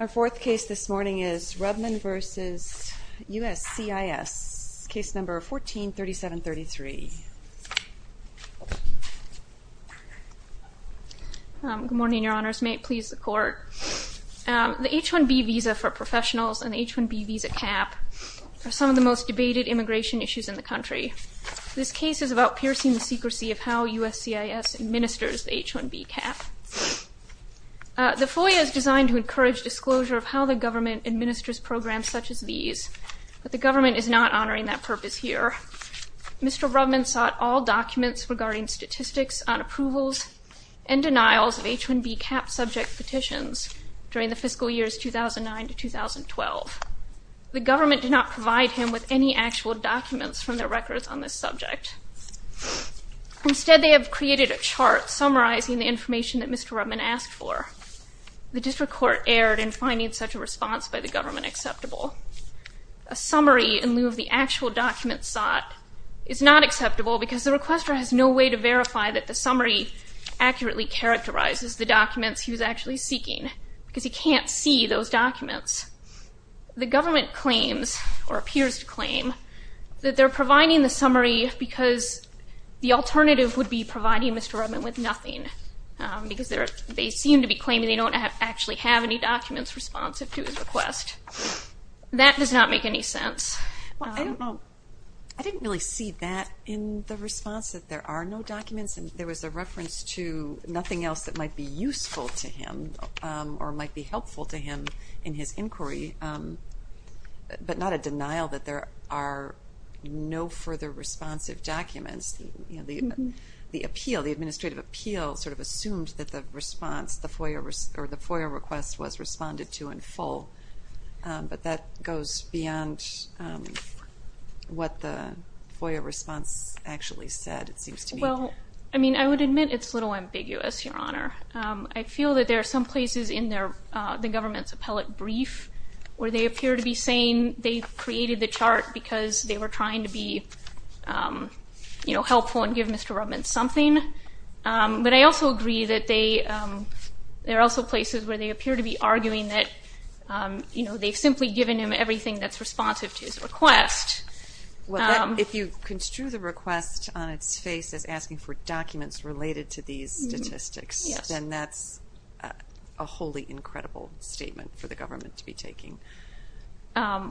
Our fourth case this morning is Rubman v. USCIS, case number 14-3733. The H-1B visa for professionals and the H-1B visa cap are some of the most debated immigration issues in the country. This case is about piercing the secrecy of how USCIS administers the H-1B cap. The FOIA is designed to encourage disclosure of how the government administers programs such as these, but the government is not honoring that purpose here. Mr. Rubman sought all documents regarding statistics on approvals and denials of H-1B cap subject petitions during the fiscal years 2009-2012. The government did not provide him with any actual documents from their records on this subject. Instead, they have created a chart summarizing the information that Mr. Rubman asked for. The district court erred in finding such a response by the government acceptable. A summary in lieu of the actual documents sought is not acceptable because the requester has no way to verify that the summary accurately characterizes the documents he was actually seeking because he can't see those documents. The government claims, or appears to claim, that they're providing the summary because the alternative would be providing Mr. Rubman with nothing because they seem to be claiming they don't actually have any documents responsive to his request. That does not make any sense. I don't know. I didn't really see that in the response, that there are no documents. There was a reference to nothing else that might be useful to him or might be helpful to him in his inquiry, but not a denial that there are no further responsive documents. The appeal, the administrative appeal, sort of assumed that the response, the FOIA request was responded to in full, but that goes beyond what the FOIA response actually said, it seems to me. Well, I mean, I would admit it's a little ambiguous, Your Honor. I feel that there are some places in the government's appellate brief where they appear to be saying they created the chart because they were trying to be helpful and give Mr. Rubman something, but I also agree that there are also places where they appear to be arguing that they've simply given him everything that's responsive to his request. If you construe the request on its face as asking for documents related to these statistics, then that's a wholly incredible statement for the government to be taking. Yeah,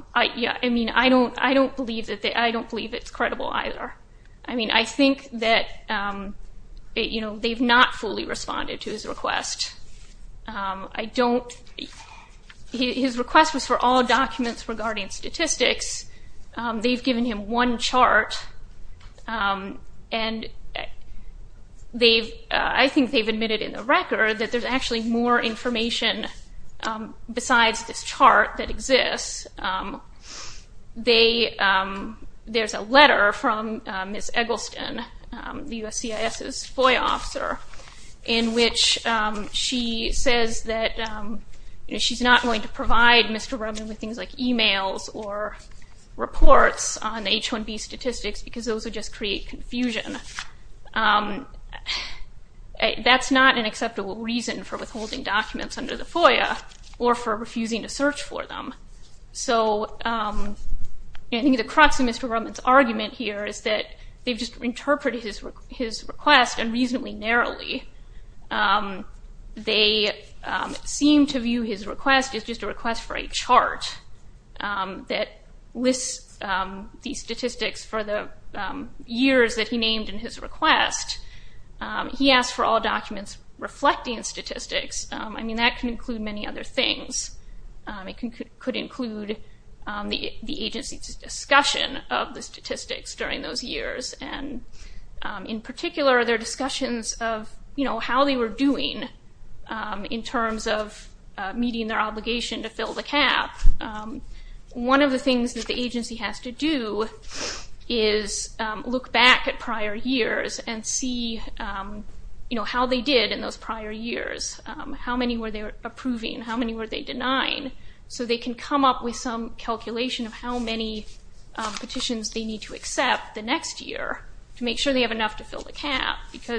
I mean, I don't believe it's credible either. I mean, I think that they've not fully responded to his request. His request was for all documents regarding statistics. They've given him one chart, and I think they've admitted in the record that there's actually more information besides this chart that exists. There's a letter from Ms. Eggleston, the USCIS's FOIA officer, in which she says that she's not going to provide Mr. Rubman with things like emails or reports on H-1B statistics because those would just create confusion. That's not an acceptable reason for withholding documents under the FOIA or for refusing to search for them. So I think the crux of Mr. Rubman's argument here is that they've just interpreted his request unreasonably narrowly. They seem to view his request as just a request for a chart that lists the statistics for the years that he named in his request. He asked for all documents reflecting statistics. I mean, that can include many other things. It could include the agency's discussion of the statistics during those years, and in terms of how they were doing in terms of meeting their obligation to fill the cap. One of the things that the agency has to do is look back at prior years and see how they did in those prior years. How many were they approving? How many were they denying? So they can come up with some calculation of how many petitions they need to accept because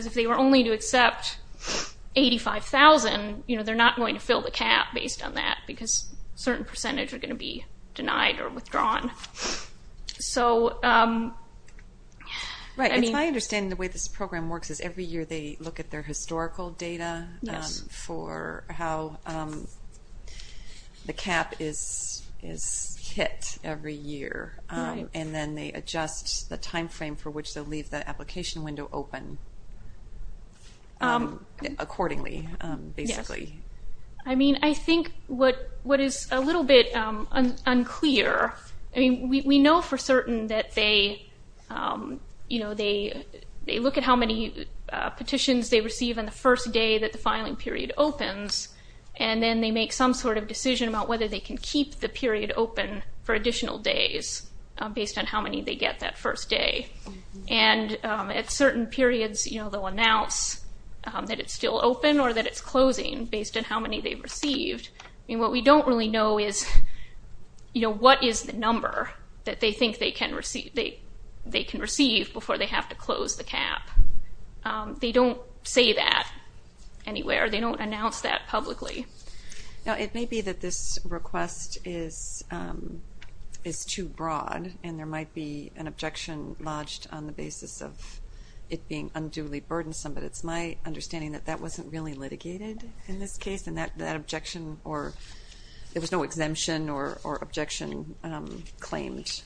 if they were only to accept 85,000, they're not going to fill the cap based on that because a certain percentage are going to be denied or withdrawn. So I mean... Right. It's my understanding the way this program works is every year they look at their historical data for how the cap is hit every year, and then they adjust the timeframe for which they'll leave the application window open accordingly, basically. I mean, I think what is a little bit unclear, I mean, we know for certain that they look at how many petitions they receive on the first day that the filing period opens, and then they make some sort of decision about whether they can keep the period open for And at certain periods, you know, they'll announce that it's still open or that it's closing based on how many they've received. I mean, what we don't really know is, you know, what is the number that they think they can receive before they have to close the cap. They don't say that anywhere. They don't announce that publicly. Now, it may be that this request is too broad, and there might be an objection lodged on the basis of it being unduly burdensome, but it's my understanding that that wasn't really litigated in this case, and that objection, or there was no exemption or objection claimed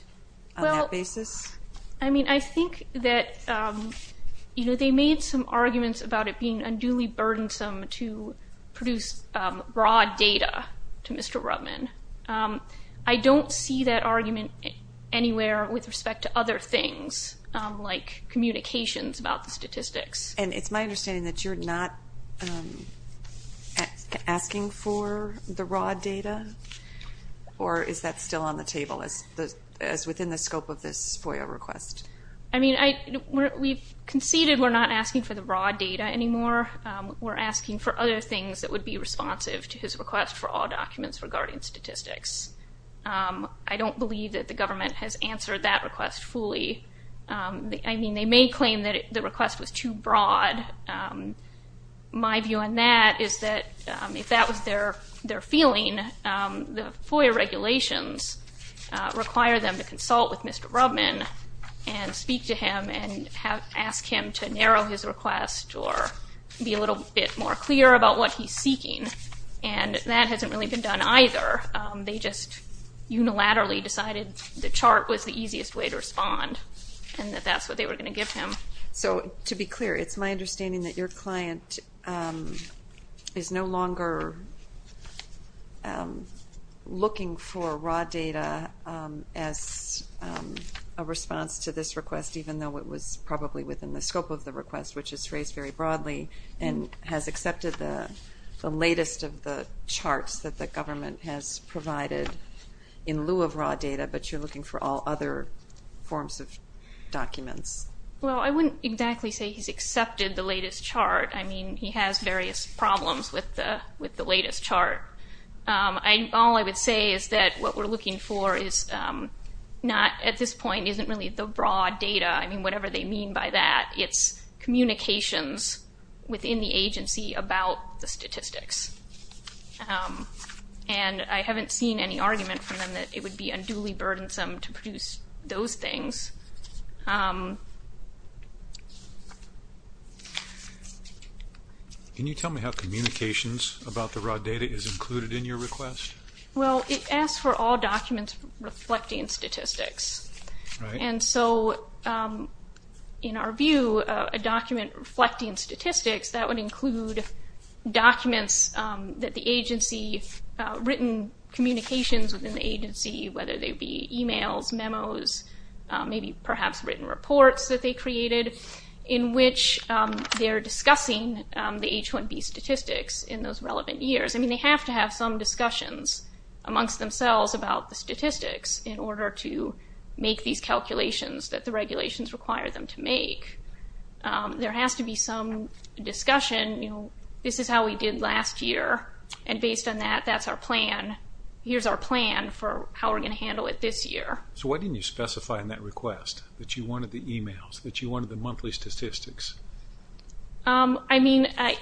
on that basis? I mean, I think that, you know, they made some arguments about it being unduly burdensome to produce broad data to Mr. Rudman. I don't see that argument anywhere with respect to other things, like communications about the statistics. And it's my understanding that you're not asking for the raw data, or is that still on the table as within the scope of this FOIA request? I mean, we've conceded we're not asking for the raw data anymore. We're asking for other things that would be responsive to his request for all documents regarding statistics. I don't believe that the government has answered that request fully. I mean, they may claim that the request was too broad. My view on that is that if that was their feeling, the FOIA regulations require them to consult with Mr. Rudman and speak to him and ask him to narrow his request or be a little bit more clear about what he's seeking. And that hasn't really been done either. They just unilaterally decided the chart was the easiest way to respond and that that's what they were going to give him. So to be clear, it's my understanding that your client is no longer looking for raw data as a response to this request, even though it was probably within the scope of the request, which is phrased very broadly and has accepted the latest of the charts that the government has provided in lieu of raw data, but you're looking for all other forms of documents. Well, I wouldn't exactly say he's accepted the latest chart. I mean, he has various problems with the latest chart. All I would say is that what we're looking for is not, at this point, isn't really the that. It's communications within the agency about the statistics. And I haven't seen any argument from them that it would be unduly burdensome to produce those things. Can you tell me how communications about the raw data is included in your request? Well, it asks for all documents reflecting statistics. And so, in our view, a document reflecting statistics, that would include documents that the agency, written communications within the agency, whether they be emails, memos, maybe perhaps written reports that they created, in which they're discussing the H-1B statistics in those relevant years. I mean, they have to have some discussions amongst themselves about the statistics in make these calculations that the regulations require them to make. There has to be some discussion, you know, this is how we did last year. And based on that, that's our plan. Here's our plan for how we're going to handle it this year. So why didn't you specify in that request that you wanted the emails, that you wanted the monthly statistics? I mean, I...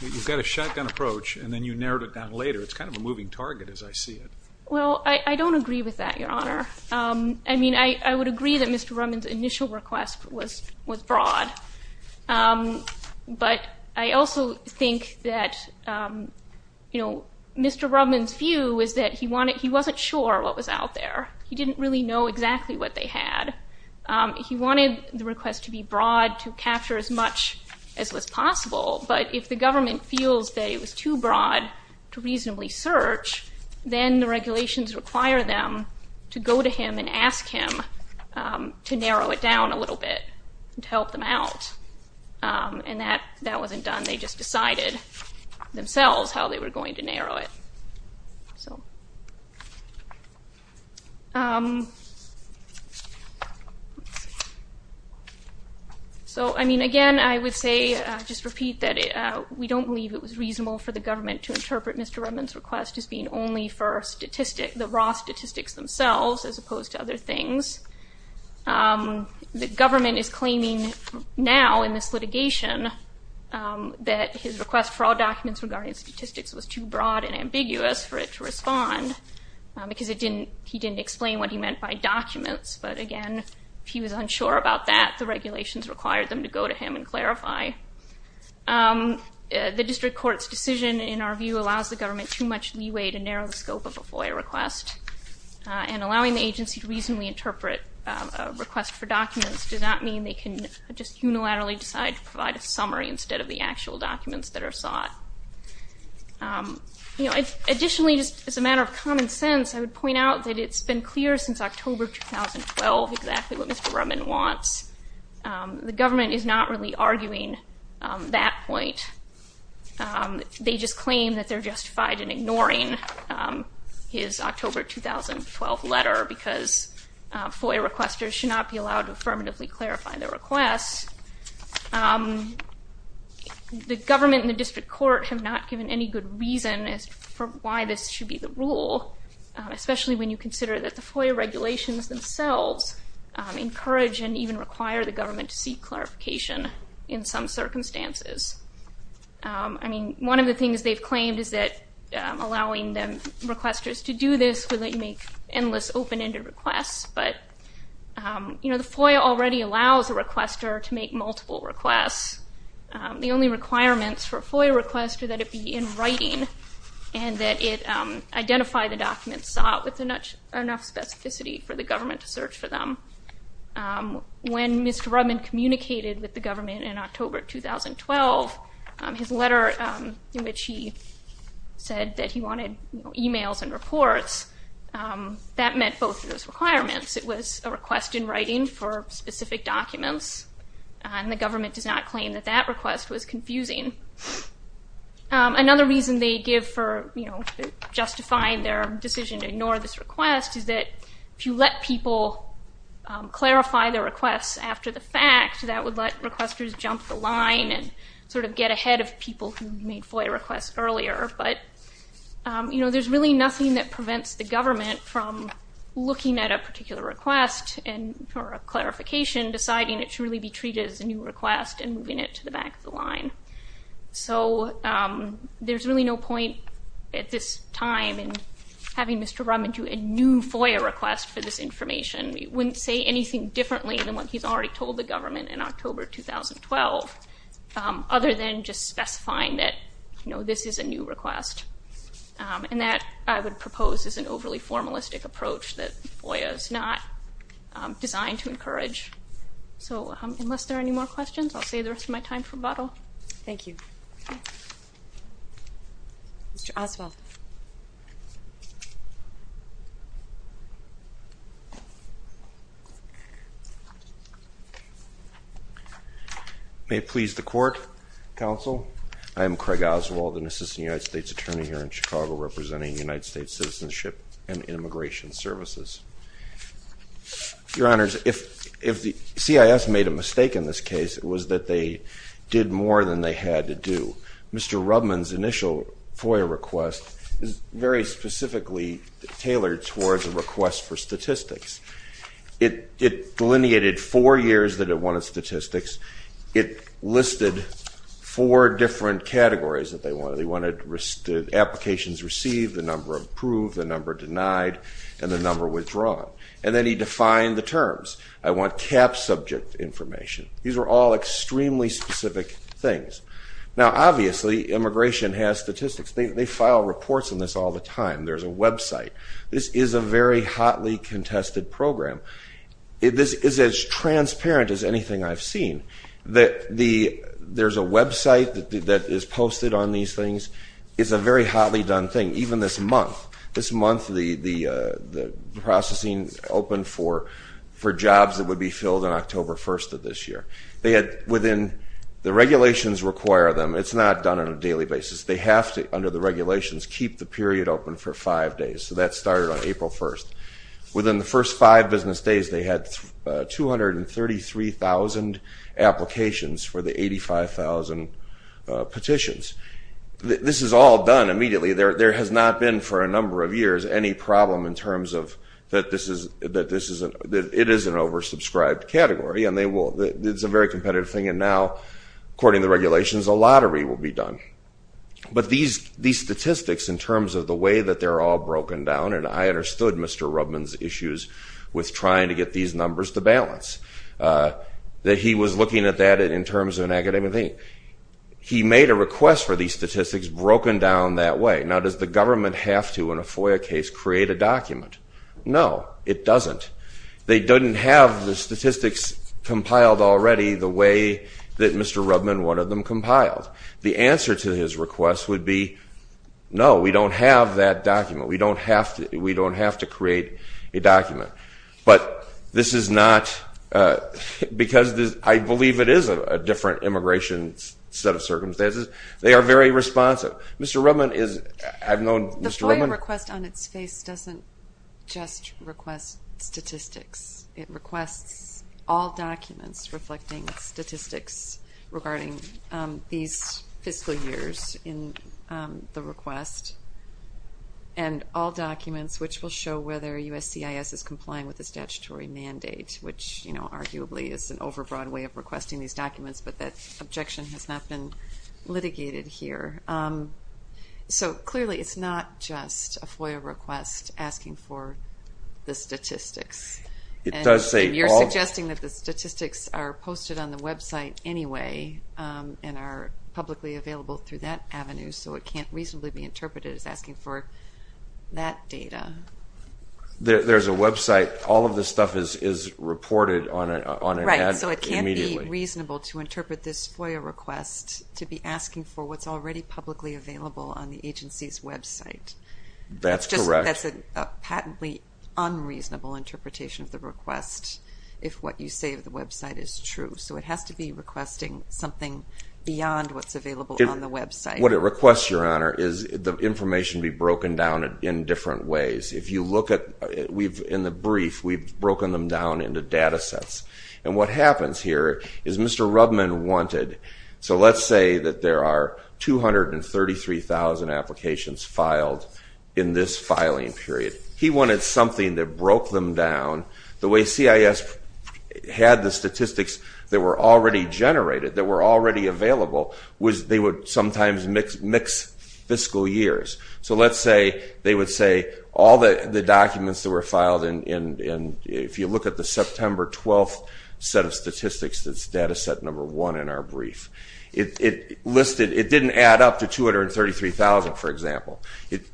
You've got a shotgun approach, and then you narrowed it down later. It's kind of a moving target, as I see it. Well, I don't agree with that, Your Honor. I mean, I would agree that Mr. Rubbin's initial request was broad. But I also think that, you know, Mr. Rubbin's view is that he wasn't sure what was out there. He didn't really know exactly what they had. He wanted the request to be broad, to capture as much as was possible. But if the government feels that it was too broad to reasonably search, then the regulations require them to go to him and ask him to narrow it down a little bit, to help them out. And that wasn't done. They just decided themselves how they were going to narrow it. So... So, I mean, again, I would say, just repeat, that we don't believe it was reasonable for the government to interpret Mr. Rubbin's request as being only for the raw statistics themselves, as opposed to other things. The government is claiming now, in this litigation, that his request for all documents regarding statistics was too broad and ambiguous for it to respond, because he didn't explain what he meant by documents. But, again, if he was unsure about that, the regulations required them to go to him and clarify. The district court's decision, in our view, allows the government too much leeway to narrow the scope of a FOIA request, and allowing the agency to reasonably interpret a request for documents does not mean they can just unilaterally decide to provide a summary instead of the actual documents that are sought. Additionally, as a matter of common sense, I would point out that it's been clear since October 2012 exactly what Mr. Rubbin wants. The government is not really arguing that point. They just claim that they're justified in ignoring his October 2012 letter, because FOIA requesters should not be allowed to affirmatively clarify their requests. The government and the district court have not given any good reason as to why this should be the rule, especially when you consider that the FOIA regulations themselves encourage and even require the government to seek clarification in some circumstances. One of the things they've claimed is that allowing the requesters to do this would make endless open-ended requests, but the FOIA already allows a requester to make multiple requests. The only requirements for a FOIA request are that it be in writing, and that it identify the documents sought with enough specificity for the government to search for them. When Mr. Rubbin communicated with the government in October 2012, his letter in which he said that he wanted emails and reports, that meant both of those requirements. It was a request in writing for specific documents, and the government does not claim that that request was confusing. Another reason they give for justifying their decision to ignore this request is that if you let people clarify their requests after the fact, that would let requesters jump the There's really nothing that prevents the government from looking at a particular request or a clarification, deciding it should really be treated as a new request and moving it to the back of the line. So there's really no point at this time in having Mr. Rubbin do a new FOIA request for this information. It wouldn't say anything differently than what he's already told the government in October 2012, other than just specifying that this is a new request. And that, I would propose, is an overly formalistic approach that FOIA is not designed to encourage. So unless there are any more questions, I'll save the rest of my time for a bottle. Thank you. Mr. Oswald. May it please the Court, Counsel, I am Craig Oswald, an Assistant United States Attorney here in Chicago, representing United States Citizenship and Immigration Services. Your Honors, if the CIS made a mistake in this case, it was that they did more than they had to do. Mr. Rubbin's initial FOIA request is very specifically tailored towards a request for statistics. It delineated four years that it wanted statistics. It listed four different categories that they wanted. They wanted applications received, the number approved, the number denied, and the number withdrawn. And then he defined the terms. I want CAP subject information. These are all extremely specific things. Now, obviously, immigration has statistics. They file reports on this all the time. There's a website. This is a very hotly contested program. This is as transparent as anything I've seen. There's a website that is posted on these things. It's a very hotly done thing. Even this month, this month, the processing opened for jobs that would be filled on October 1st of this year. They had within the regulations require them, it's not done on a daily basis. They have to, under the regulations, keep the period open for five days. So that started on April 1st. Within the first five business days, they had 233,000 applications for the 85,000 petitions. This is all done immediately. There has not been, for a number of years, any problem in terms of that it is an oversubscribed category and they will, it's a very competitive thing and now, according to the regulations, a lottery will be done. But these statistics, in terms of the way that they're all broken down, and I understood Mr. Rubman's issues with trying to get these numbers to balance, that he was looking at that in terms of an academic thing. He made a request for these statistics broken down that way. Now does the government have to, in a FOIA case, create a document? No, it doesn't. They didn't have the statistics compiled already the way that Mr. Rubman wanted them compiled. The answer to his request would be, no, we don't have that document. We don't have to create a document. But this is not, because I believe it is a different immigration set of circumstances, they are very responsive. The request on its face doesn't just request statistics. It requests all documents reflecting statistics regarding these fiscal years in the request and all documents which will show whether USCIS is complying with the statutory mandate, which arguably is an overbroad way of requesting these documents, but that objection has not been litigated here. So, clearly it's not just a FOIA request asking for the statistics. It does say all... You're suggesting that the statistics are posted on the website anyway and are publicly available through that avenue, so it can't reasonably be interpreted as asking for that data. There's a website. All of this stuff is reported on an ad immediately. Right, so it can't be reasonable to interpret this FOIA request to be asking for what's already publicly available on the agency's website. That's correct. That's a patently unreasonable interpretation of the request if what you say of the website is true. So it has to be requesting something beyond what's available on the website. What it requests, Your Honor, is the information be broken down in different ways. If you look at... In the brief, we've broken them down into data sets. And what happens here is Mr. Rubman wanted... So let's say that there are 233,000 applications filed in this filing period. He wanted something that broke them down. The way CIS had the statistics that were already generated, that were already available, was they would sometimes mix fiscal years. So let's say they would say all the documents that were filed in... If you look at the September 12th set of statistics, that's data set number one in our brief. It didn't add up to 233,000, for example.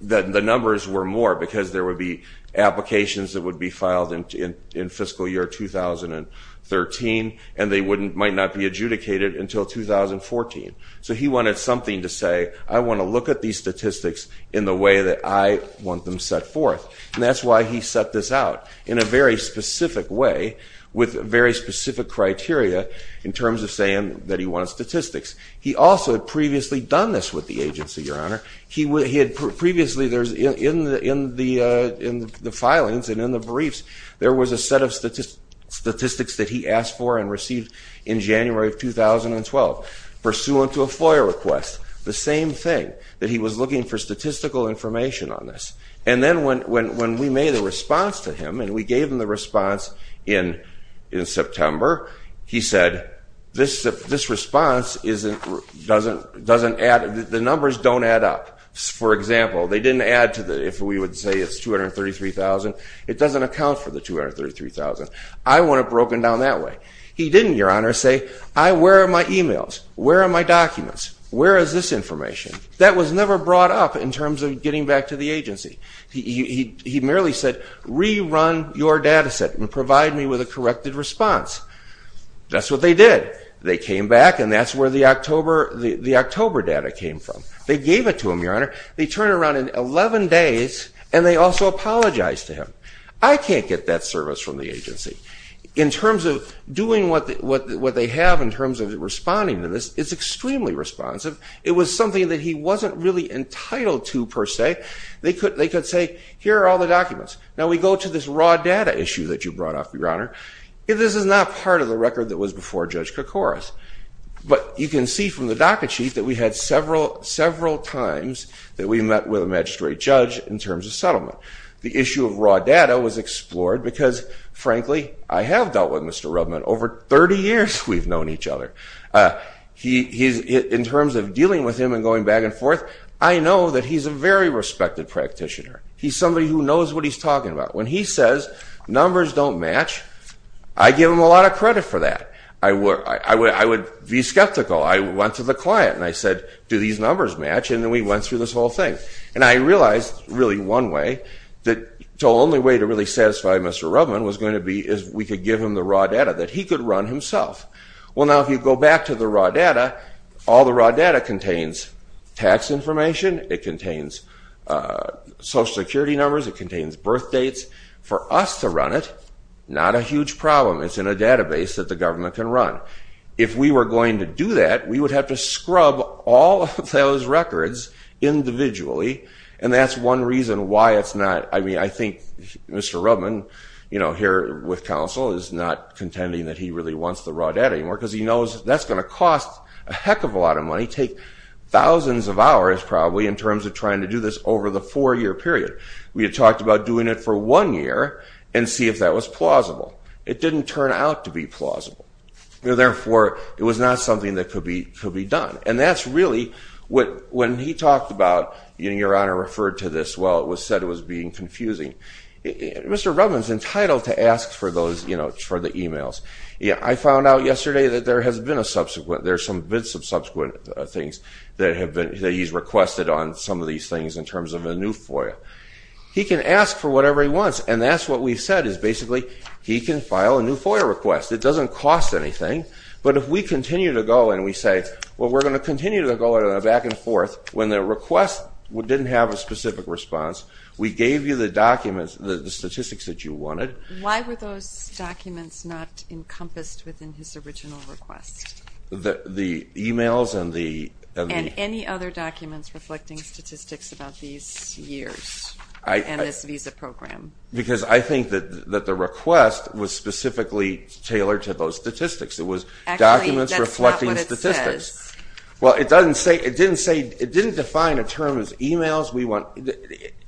The numbers were more because there would be applications that would be filed in fiscal year 2013, and they might not be adjudicated until 2014. So he wanted something to say, I want to look at these statistics in the way that I want them set forth. And that's why he set this out. In a very specific way, with very specific criteria, in terms of saying that he wanted statistics. He also had previously done this with the agency, Your Honor. He had previously, in the filings and in the briefs, there was a set of statistics that he asked for and received in January of 2012, pursuant to a FOIA request. The same thing, that he was looking for statistical information on this. And then when we made a response to him, and we gave him the response in September, he said, this response doesn't add... The numbers don't add up. For example, they didn't add to the... If we would say it's 233,000, it doesn't account for the 233,000. I want it broken down that way. He didn't, Your Honor, say, where are my emails? Where are my documents? Where is this information? That was never brought up in terms of getting back to the agency. He merely said, rerun your data set and provide me with a corrected response. That's what they did. They came back, and that's where the October data came from. They gave it to him, Your Honor. They turned around in 11 days, and they also apologized to him. I can't get that service from the agency. In terms of doing what they have in terms of responding to this, it's extremely responsive. It was something that he wasn't really entitled to, per se. They could say, here are all the documents. Now, we go to this raw data issue that you brought up, Your Honor. This is not part of the record that was before Judge Koukouras. But you can see from the docket sheet that we had several times that we met with a magistrate judge in terms of settlement. The issue of raw data was explored because, frankly, I have dealt with Mr. Rubment over 30 years we've known each other. In terms of dealing with him and going back and forth, I know that he's a very respected practitioner. He's somebody who knows what he's talking about. When he says numbers don't match, I give him a lot of credit for that. I would be skeptical. I went to the client, and I said, do these numbers match? And then we went through this whole thing. And I realized, really, one way, the only way to really satisfy Mr. Rubment was going to be if we could give him the raw data that he could run himself. Well, now, if you go back to the raw data, all the raw data contains tax information. It contains Social Security numbers. It contains birth dates. For us to run it, not a huge problem. It's in a database that the government can run. If we were going to do that, we would have to scrub all of those records individually. And that's one reason why it's not, I mean, I think Mr. Rubment, with counsel, is not contending that he really wants the raw data anymore, because he knows that's going to cost a heck of a lot of money, take thousands of hours, probably, in terms of trying to do this over the four-year period. We had talked about doing it for one year and see if that was plausible. It didn't turn out to be plausible. Therefore, it was not something that could be done. And that's really what, when he talked about, your honor referred to this, well, it was said it was being confusing. Mr. Rubment is entitled to ask for those, you know, for the emails. I found out yesterday that there has been a subsequent, there's been some subsequent things that he's requested on some of these things in terms of a new FOIA. He can ask for whatever he wants, and that's what we've said, is basically, he can file a new FOIA request. It doesn't cost anything, but if we continue to go and we say, well, we're going to continue to go back and forth, when the request didn't have a specific response, we gave you the documents, the statistics that you wanted. Why were those documents not encompassed within his original request? The emails and the... And any other documents reflecting statistics about these years and this visa program. Because I think that the request was specifically tailored to those statistics. It was documents reflecting statistics. Well, it doesn't say, it didn't say, it didn't define a term as emails.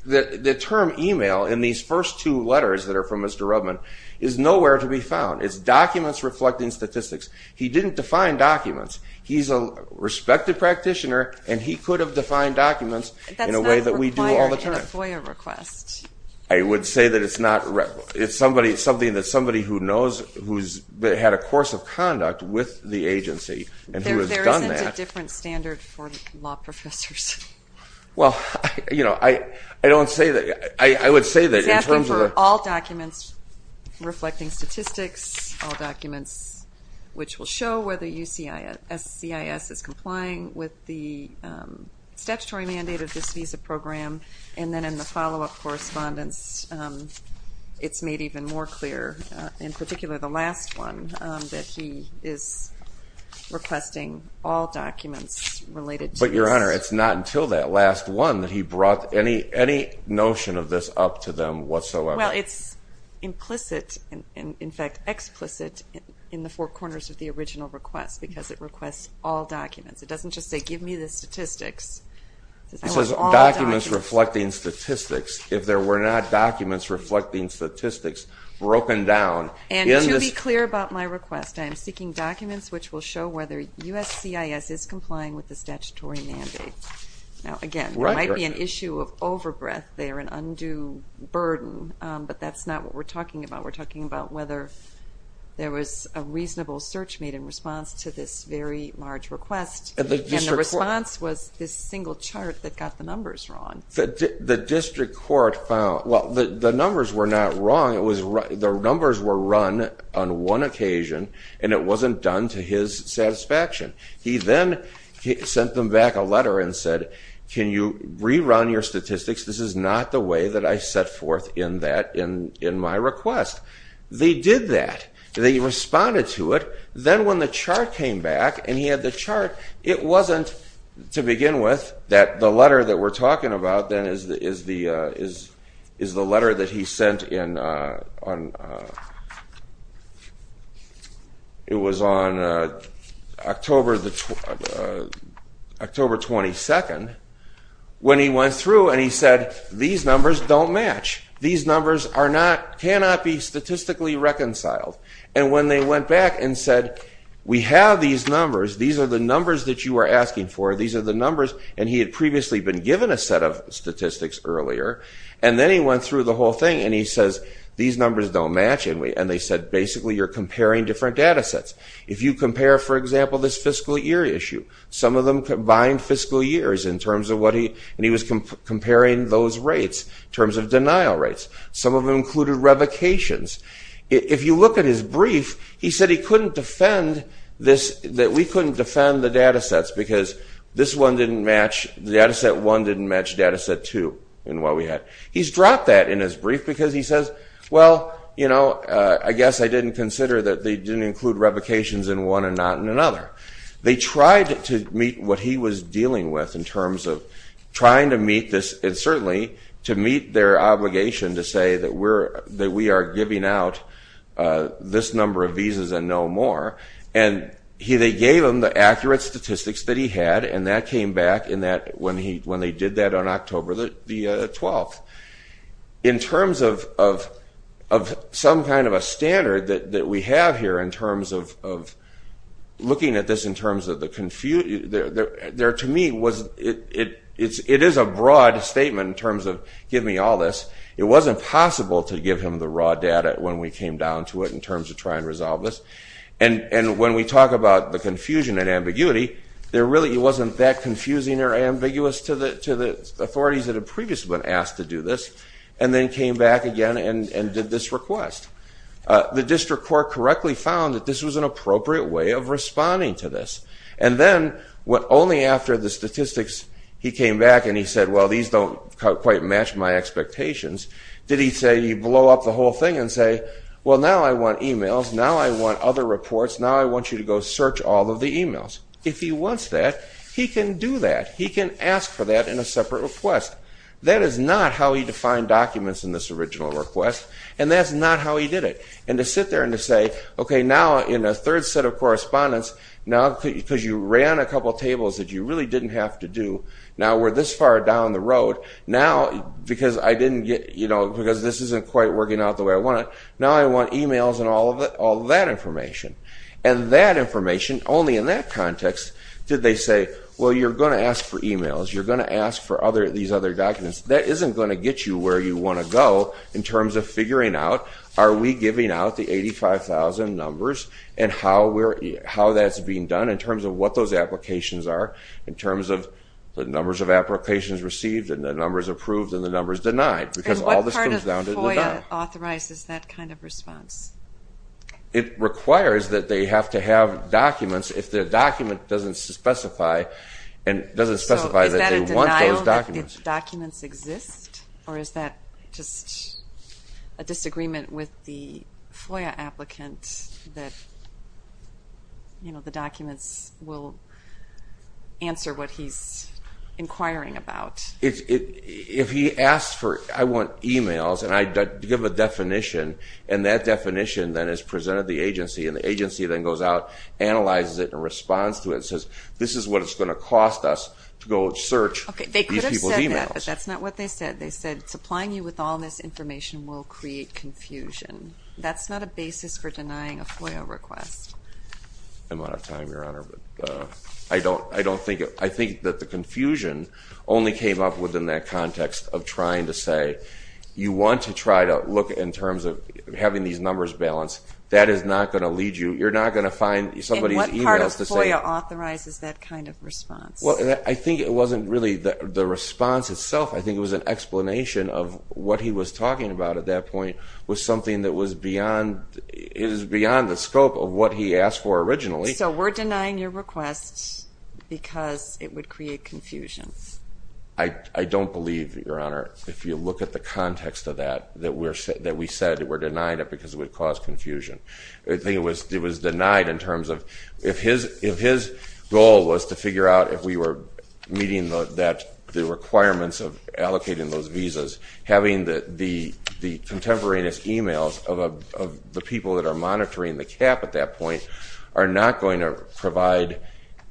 The term email in these first two letters that are from Mr. Rudman is nowhere to be found. It's documents reflecting statistics. He didn't define documents. He's a respected practitioner, and he could have defined documents in a way that we do all the time. That's not required in a FOIA request. I would say that it's not... It's something that somebody who knows, who's had a course of conduct with the agency, and who has done that... There isn't a different standard for law professors. Well, you know, I don't say that... I would say that in terms of... Exactly, for all documents reflecting statistics, all documents which will show whether USCIS is complying with the statutory mandate of this visa program. And then in the follow-up correspondence, it's made even more clear, in particular the last one, that he is requesting all documents related to... But, Your Honor, it's not until that last one that he brought any notion of this up to them whatsoever. Well, it's implicit, in fact explicit, in the four corners of the original request, because it requests all documents. It doesn't just say, give me the statistics. It says documents reflecting statistics. If there were not documents reflecting statistics broken down... And to be clear about my request, I am seeking documents which will show whether USCIS is complying with the statutory mandate. Now, again, there might be an issue of over-breath there, an undue burden, but that's not what we're talking about. We're talking about whether there was a reasonable search made in response to this very large request. And the response was this single chart that got the numbers wrong. The district court found... Well, the numbers were not wrong. The numbers were run on one occasion, and it wasn't done to his satisfaction. He then sent them back a letter and said, can you rerun your statistics? This is not the way that I set forth in my request. They did that. They responded to it. Then when the chart came back, and he had the chart, it wasn't, to begin with, that the letter that we're talking about then is the letter that he sent in... It was on October 22nd, when he went through and he said, these numbers don't match. These numbers cannot be statistically reconciled. And when they went back and said, we have these numbers. These are the numbers that you are asking for. These are the numbers. And he had previously been given a set of statistics earlier. And then he went through the whole thing, and he says, these numbers don't match. And they said, basically, you're comparing different data sets. If you compare, for example, this fiscal year issue, some of them combined fiscal years in terms of what he... And he was comparing those rates in terms of denial rates. Some of them included revocations. If you look at his brief, he said he couldn't defend this... This one didn't match... Data set one didn't match data set two in what we had. He's dropped that in his brief because he says, well, you know, I guess I didn't consider that they didn't include revocations in one and not in another. They tried to meet what he was dealing with in terms of trying to meet this, and certainly to meet their obligation to say that we are giving out this number of visas and no more. And they gave him the accurate statistics that he had, and that came back when they did that on October the 12th. In terms of some kind of a standard that we have here in terms of... Looking at this in terms of the confusion... To me, it is a broad statement in terms of, give me all this. It wasn't possible to give him the raw data when we came down to it in terms of trying to resolve this. And when we talk about the confusion and ambiguity, there really wasn't that confusing or ambiguous to the authorities that had previously been asked to do this, and then came back again and did this request. The district court correctly found that this was an appropriate way of responding to this. And then, only after the statistics, he came back and he said, well, these don't quite match my expectations. Did he say he'd blow up the whole thing and say, well, now I want emails, now I want other reports, now I want you to go search all of the emails? If he wants that, he can do that. He can ask for that in a separate request. That is not how he defined documents in this original request, and that's not how he did it. And to sit there and to say, okay, now in a third set of correspondence, now because you ran a couple of tables that you really didn't have to do, now we're this far down the road, now because this isn't quite working out the way I want it, now I want emails and all of that information. And that information, only in that context did they say, well, you're going to ask for emails, you're going to ask for these other documents. That isn't going to get you where you want to go in terms of figuring out, are we giving out the 85,000 numbers and how that's being done in terms of what those applications are, in terms of the numbers of applications received and the numbers approved and the numbers denied. And what part of FOIA authorizes that kind of response? It requires that they have to have documents. If the document doesn't specify that they want those documents. So is that a denial that the documents exist, or is that just a disagreement with the FOIA applicant that the documents will answer what he's inquiring about? If he asks for, I want emails and I give a definition and that definition then is presented to the agency and the agency then goes out, analyzes it and responds to it and says, this is what it's going to cost us to go search these people's emails. They could have said that, but that's not what they said. They said supplying you with all this information will create confusion. That's not a basis for denying a FOIA request. I'm out of time, Your Honor. I think that the confusion only came up within that context of trying to say, you want to try to look in terms of having these numbers balanced. That is not going to lead you. You're not going to find somebody's emails to say. And what part of FOIA authorizes that kind of response? I think it wasn't really the response itself. I think it was an explanation of what he was talking about at that point was something that was beyond the scope of what he asked for originally. So we're denying your request because it would create confusion. I don't believe, Your Honor, if you look at the context of that that we said that we're denying it because it would cause confusion. It was denied in terms of, if his goal was to figure out if we were meeting the requirements of allocating those visas, having the contemporaneous emails of the people that are monitoring the cap at that point are not going to provide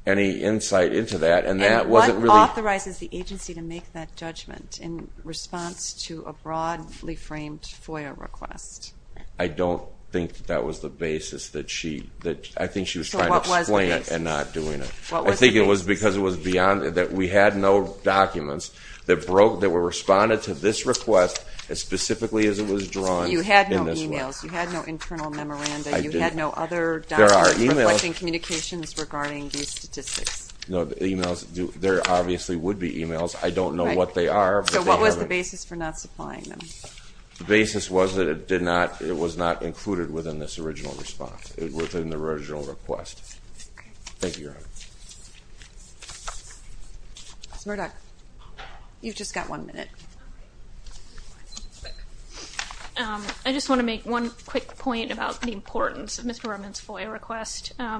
any insight into that. And that wasn't really. And what authorizes the agency to make that judgment in response to a broadly framed FOIA request? I don't think that was the basis that she, I think she was trying to explain it and not doing it. I think it was because it was beyond, that we had no documents that were responded to this request as specifically as it was drawn. You had no emails. You had no internal memoranda. You had no other documents reflecting communications regarding these statistics. No, the emails, there obviously would be emails. I don't know what they are. So what was the basis for not supplying them? The basis was that it was not included within this original response, within the original request. Thank you, Your Honor. Mr. Murdock, you've just got one minute. I just want to make one quick point about the importance of Mr. Rumman's FOIA request. I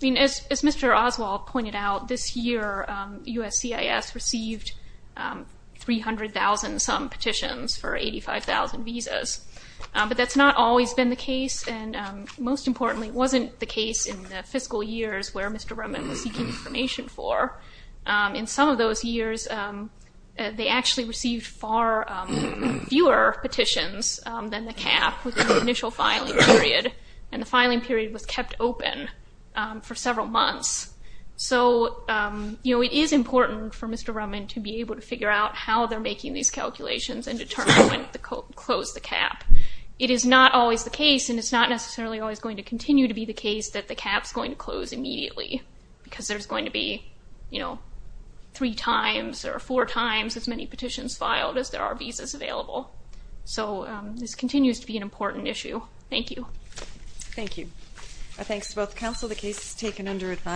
mean, as Mr. Oswald pointed out, this year, USCIS received 300,000-some petitions for 85,000 visas. But that's not always been the case. And most importantly, it wasn't the case in the fiscal years where Mr. Rumman was seeking information for. In some of those years, they actually received far fewer petitions than the cap within the initial filing period. And the filing period was kept open for several months. So it is important for Mr. Rumman to be able to figure out how they're making these calculations and determine when to close the cap. It is not always the case, and it's not necessarily always going to continue to be the case, that the cap's going to close immediately, because there's going to be three times or four times as many petitions filed as there are visas available. So this continues to be an important issue. Thank you. Thank you. Thanks to both counsel. The case is taken under advice.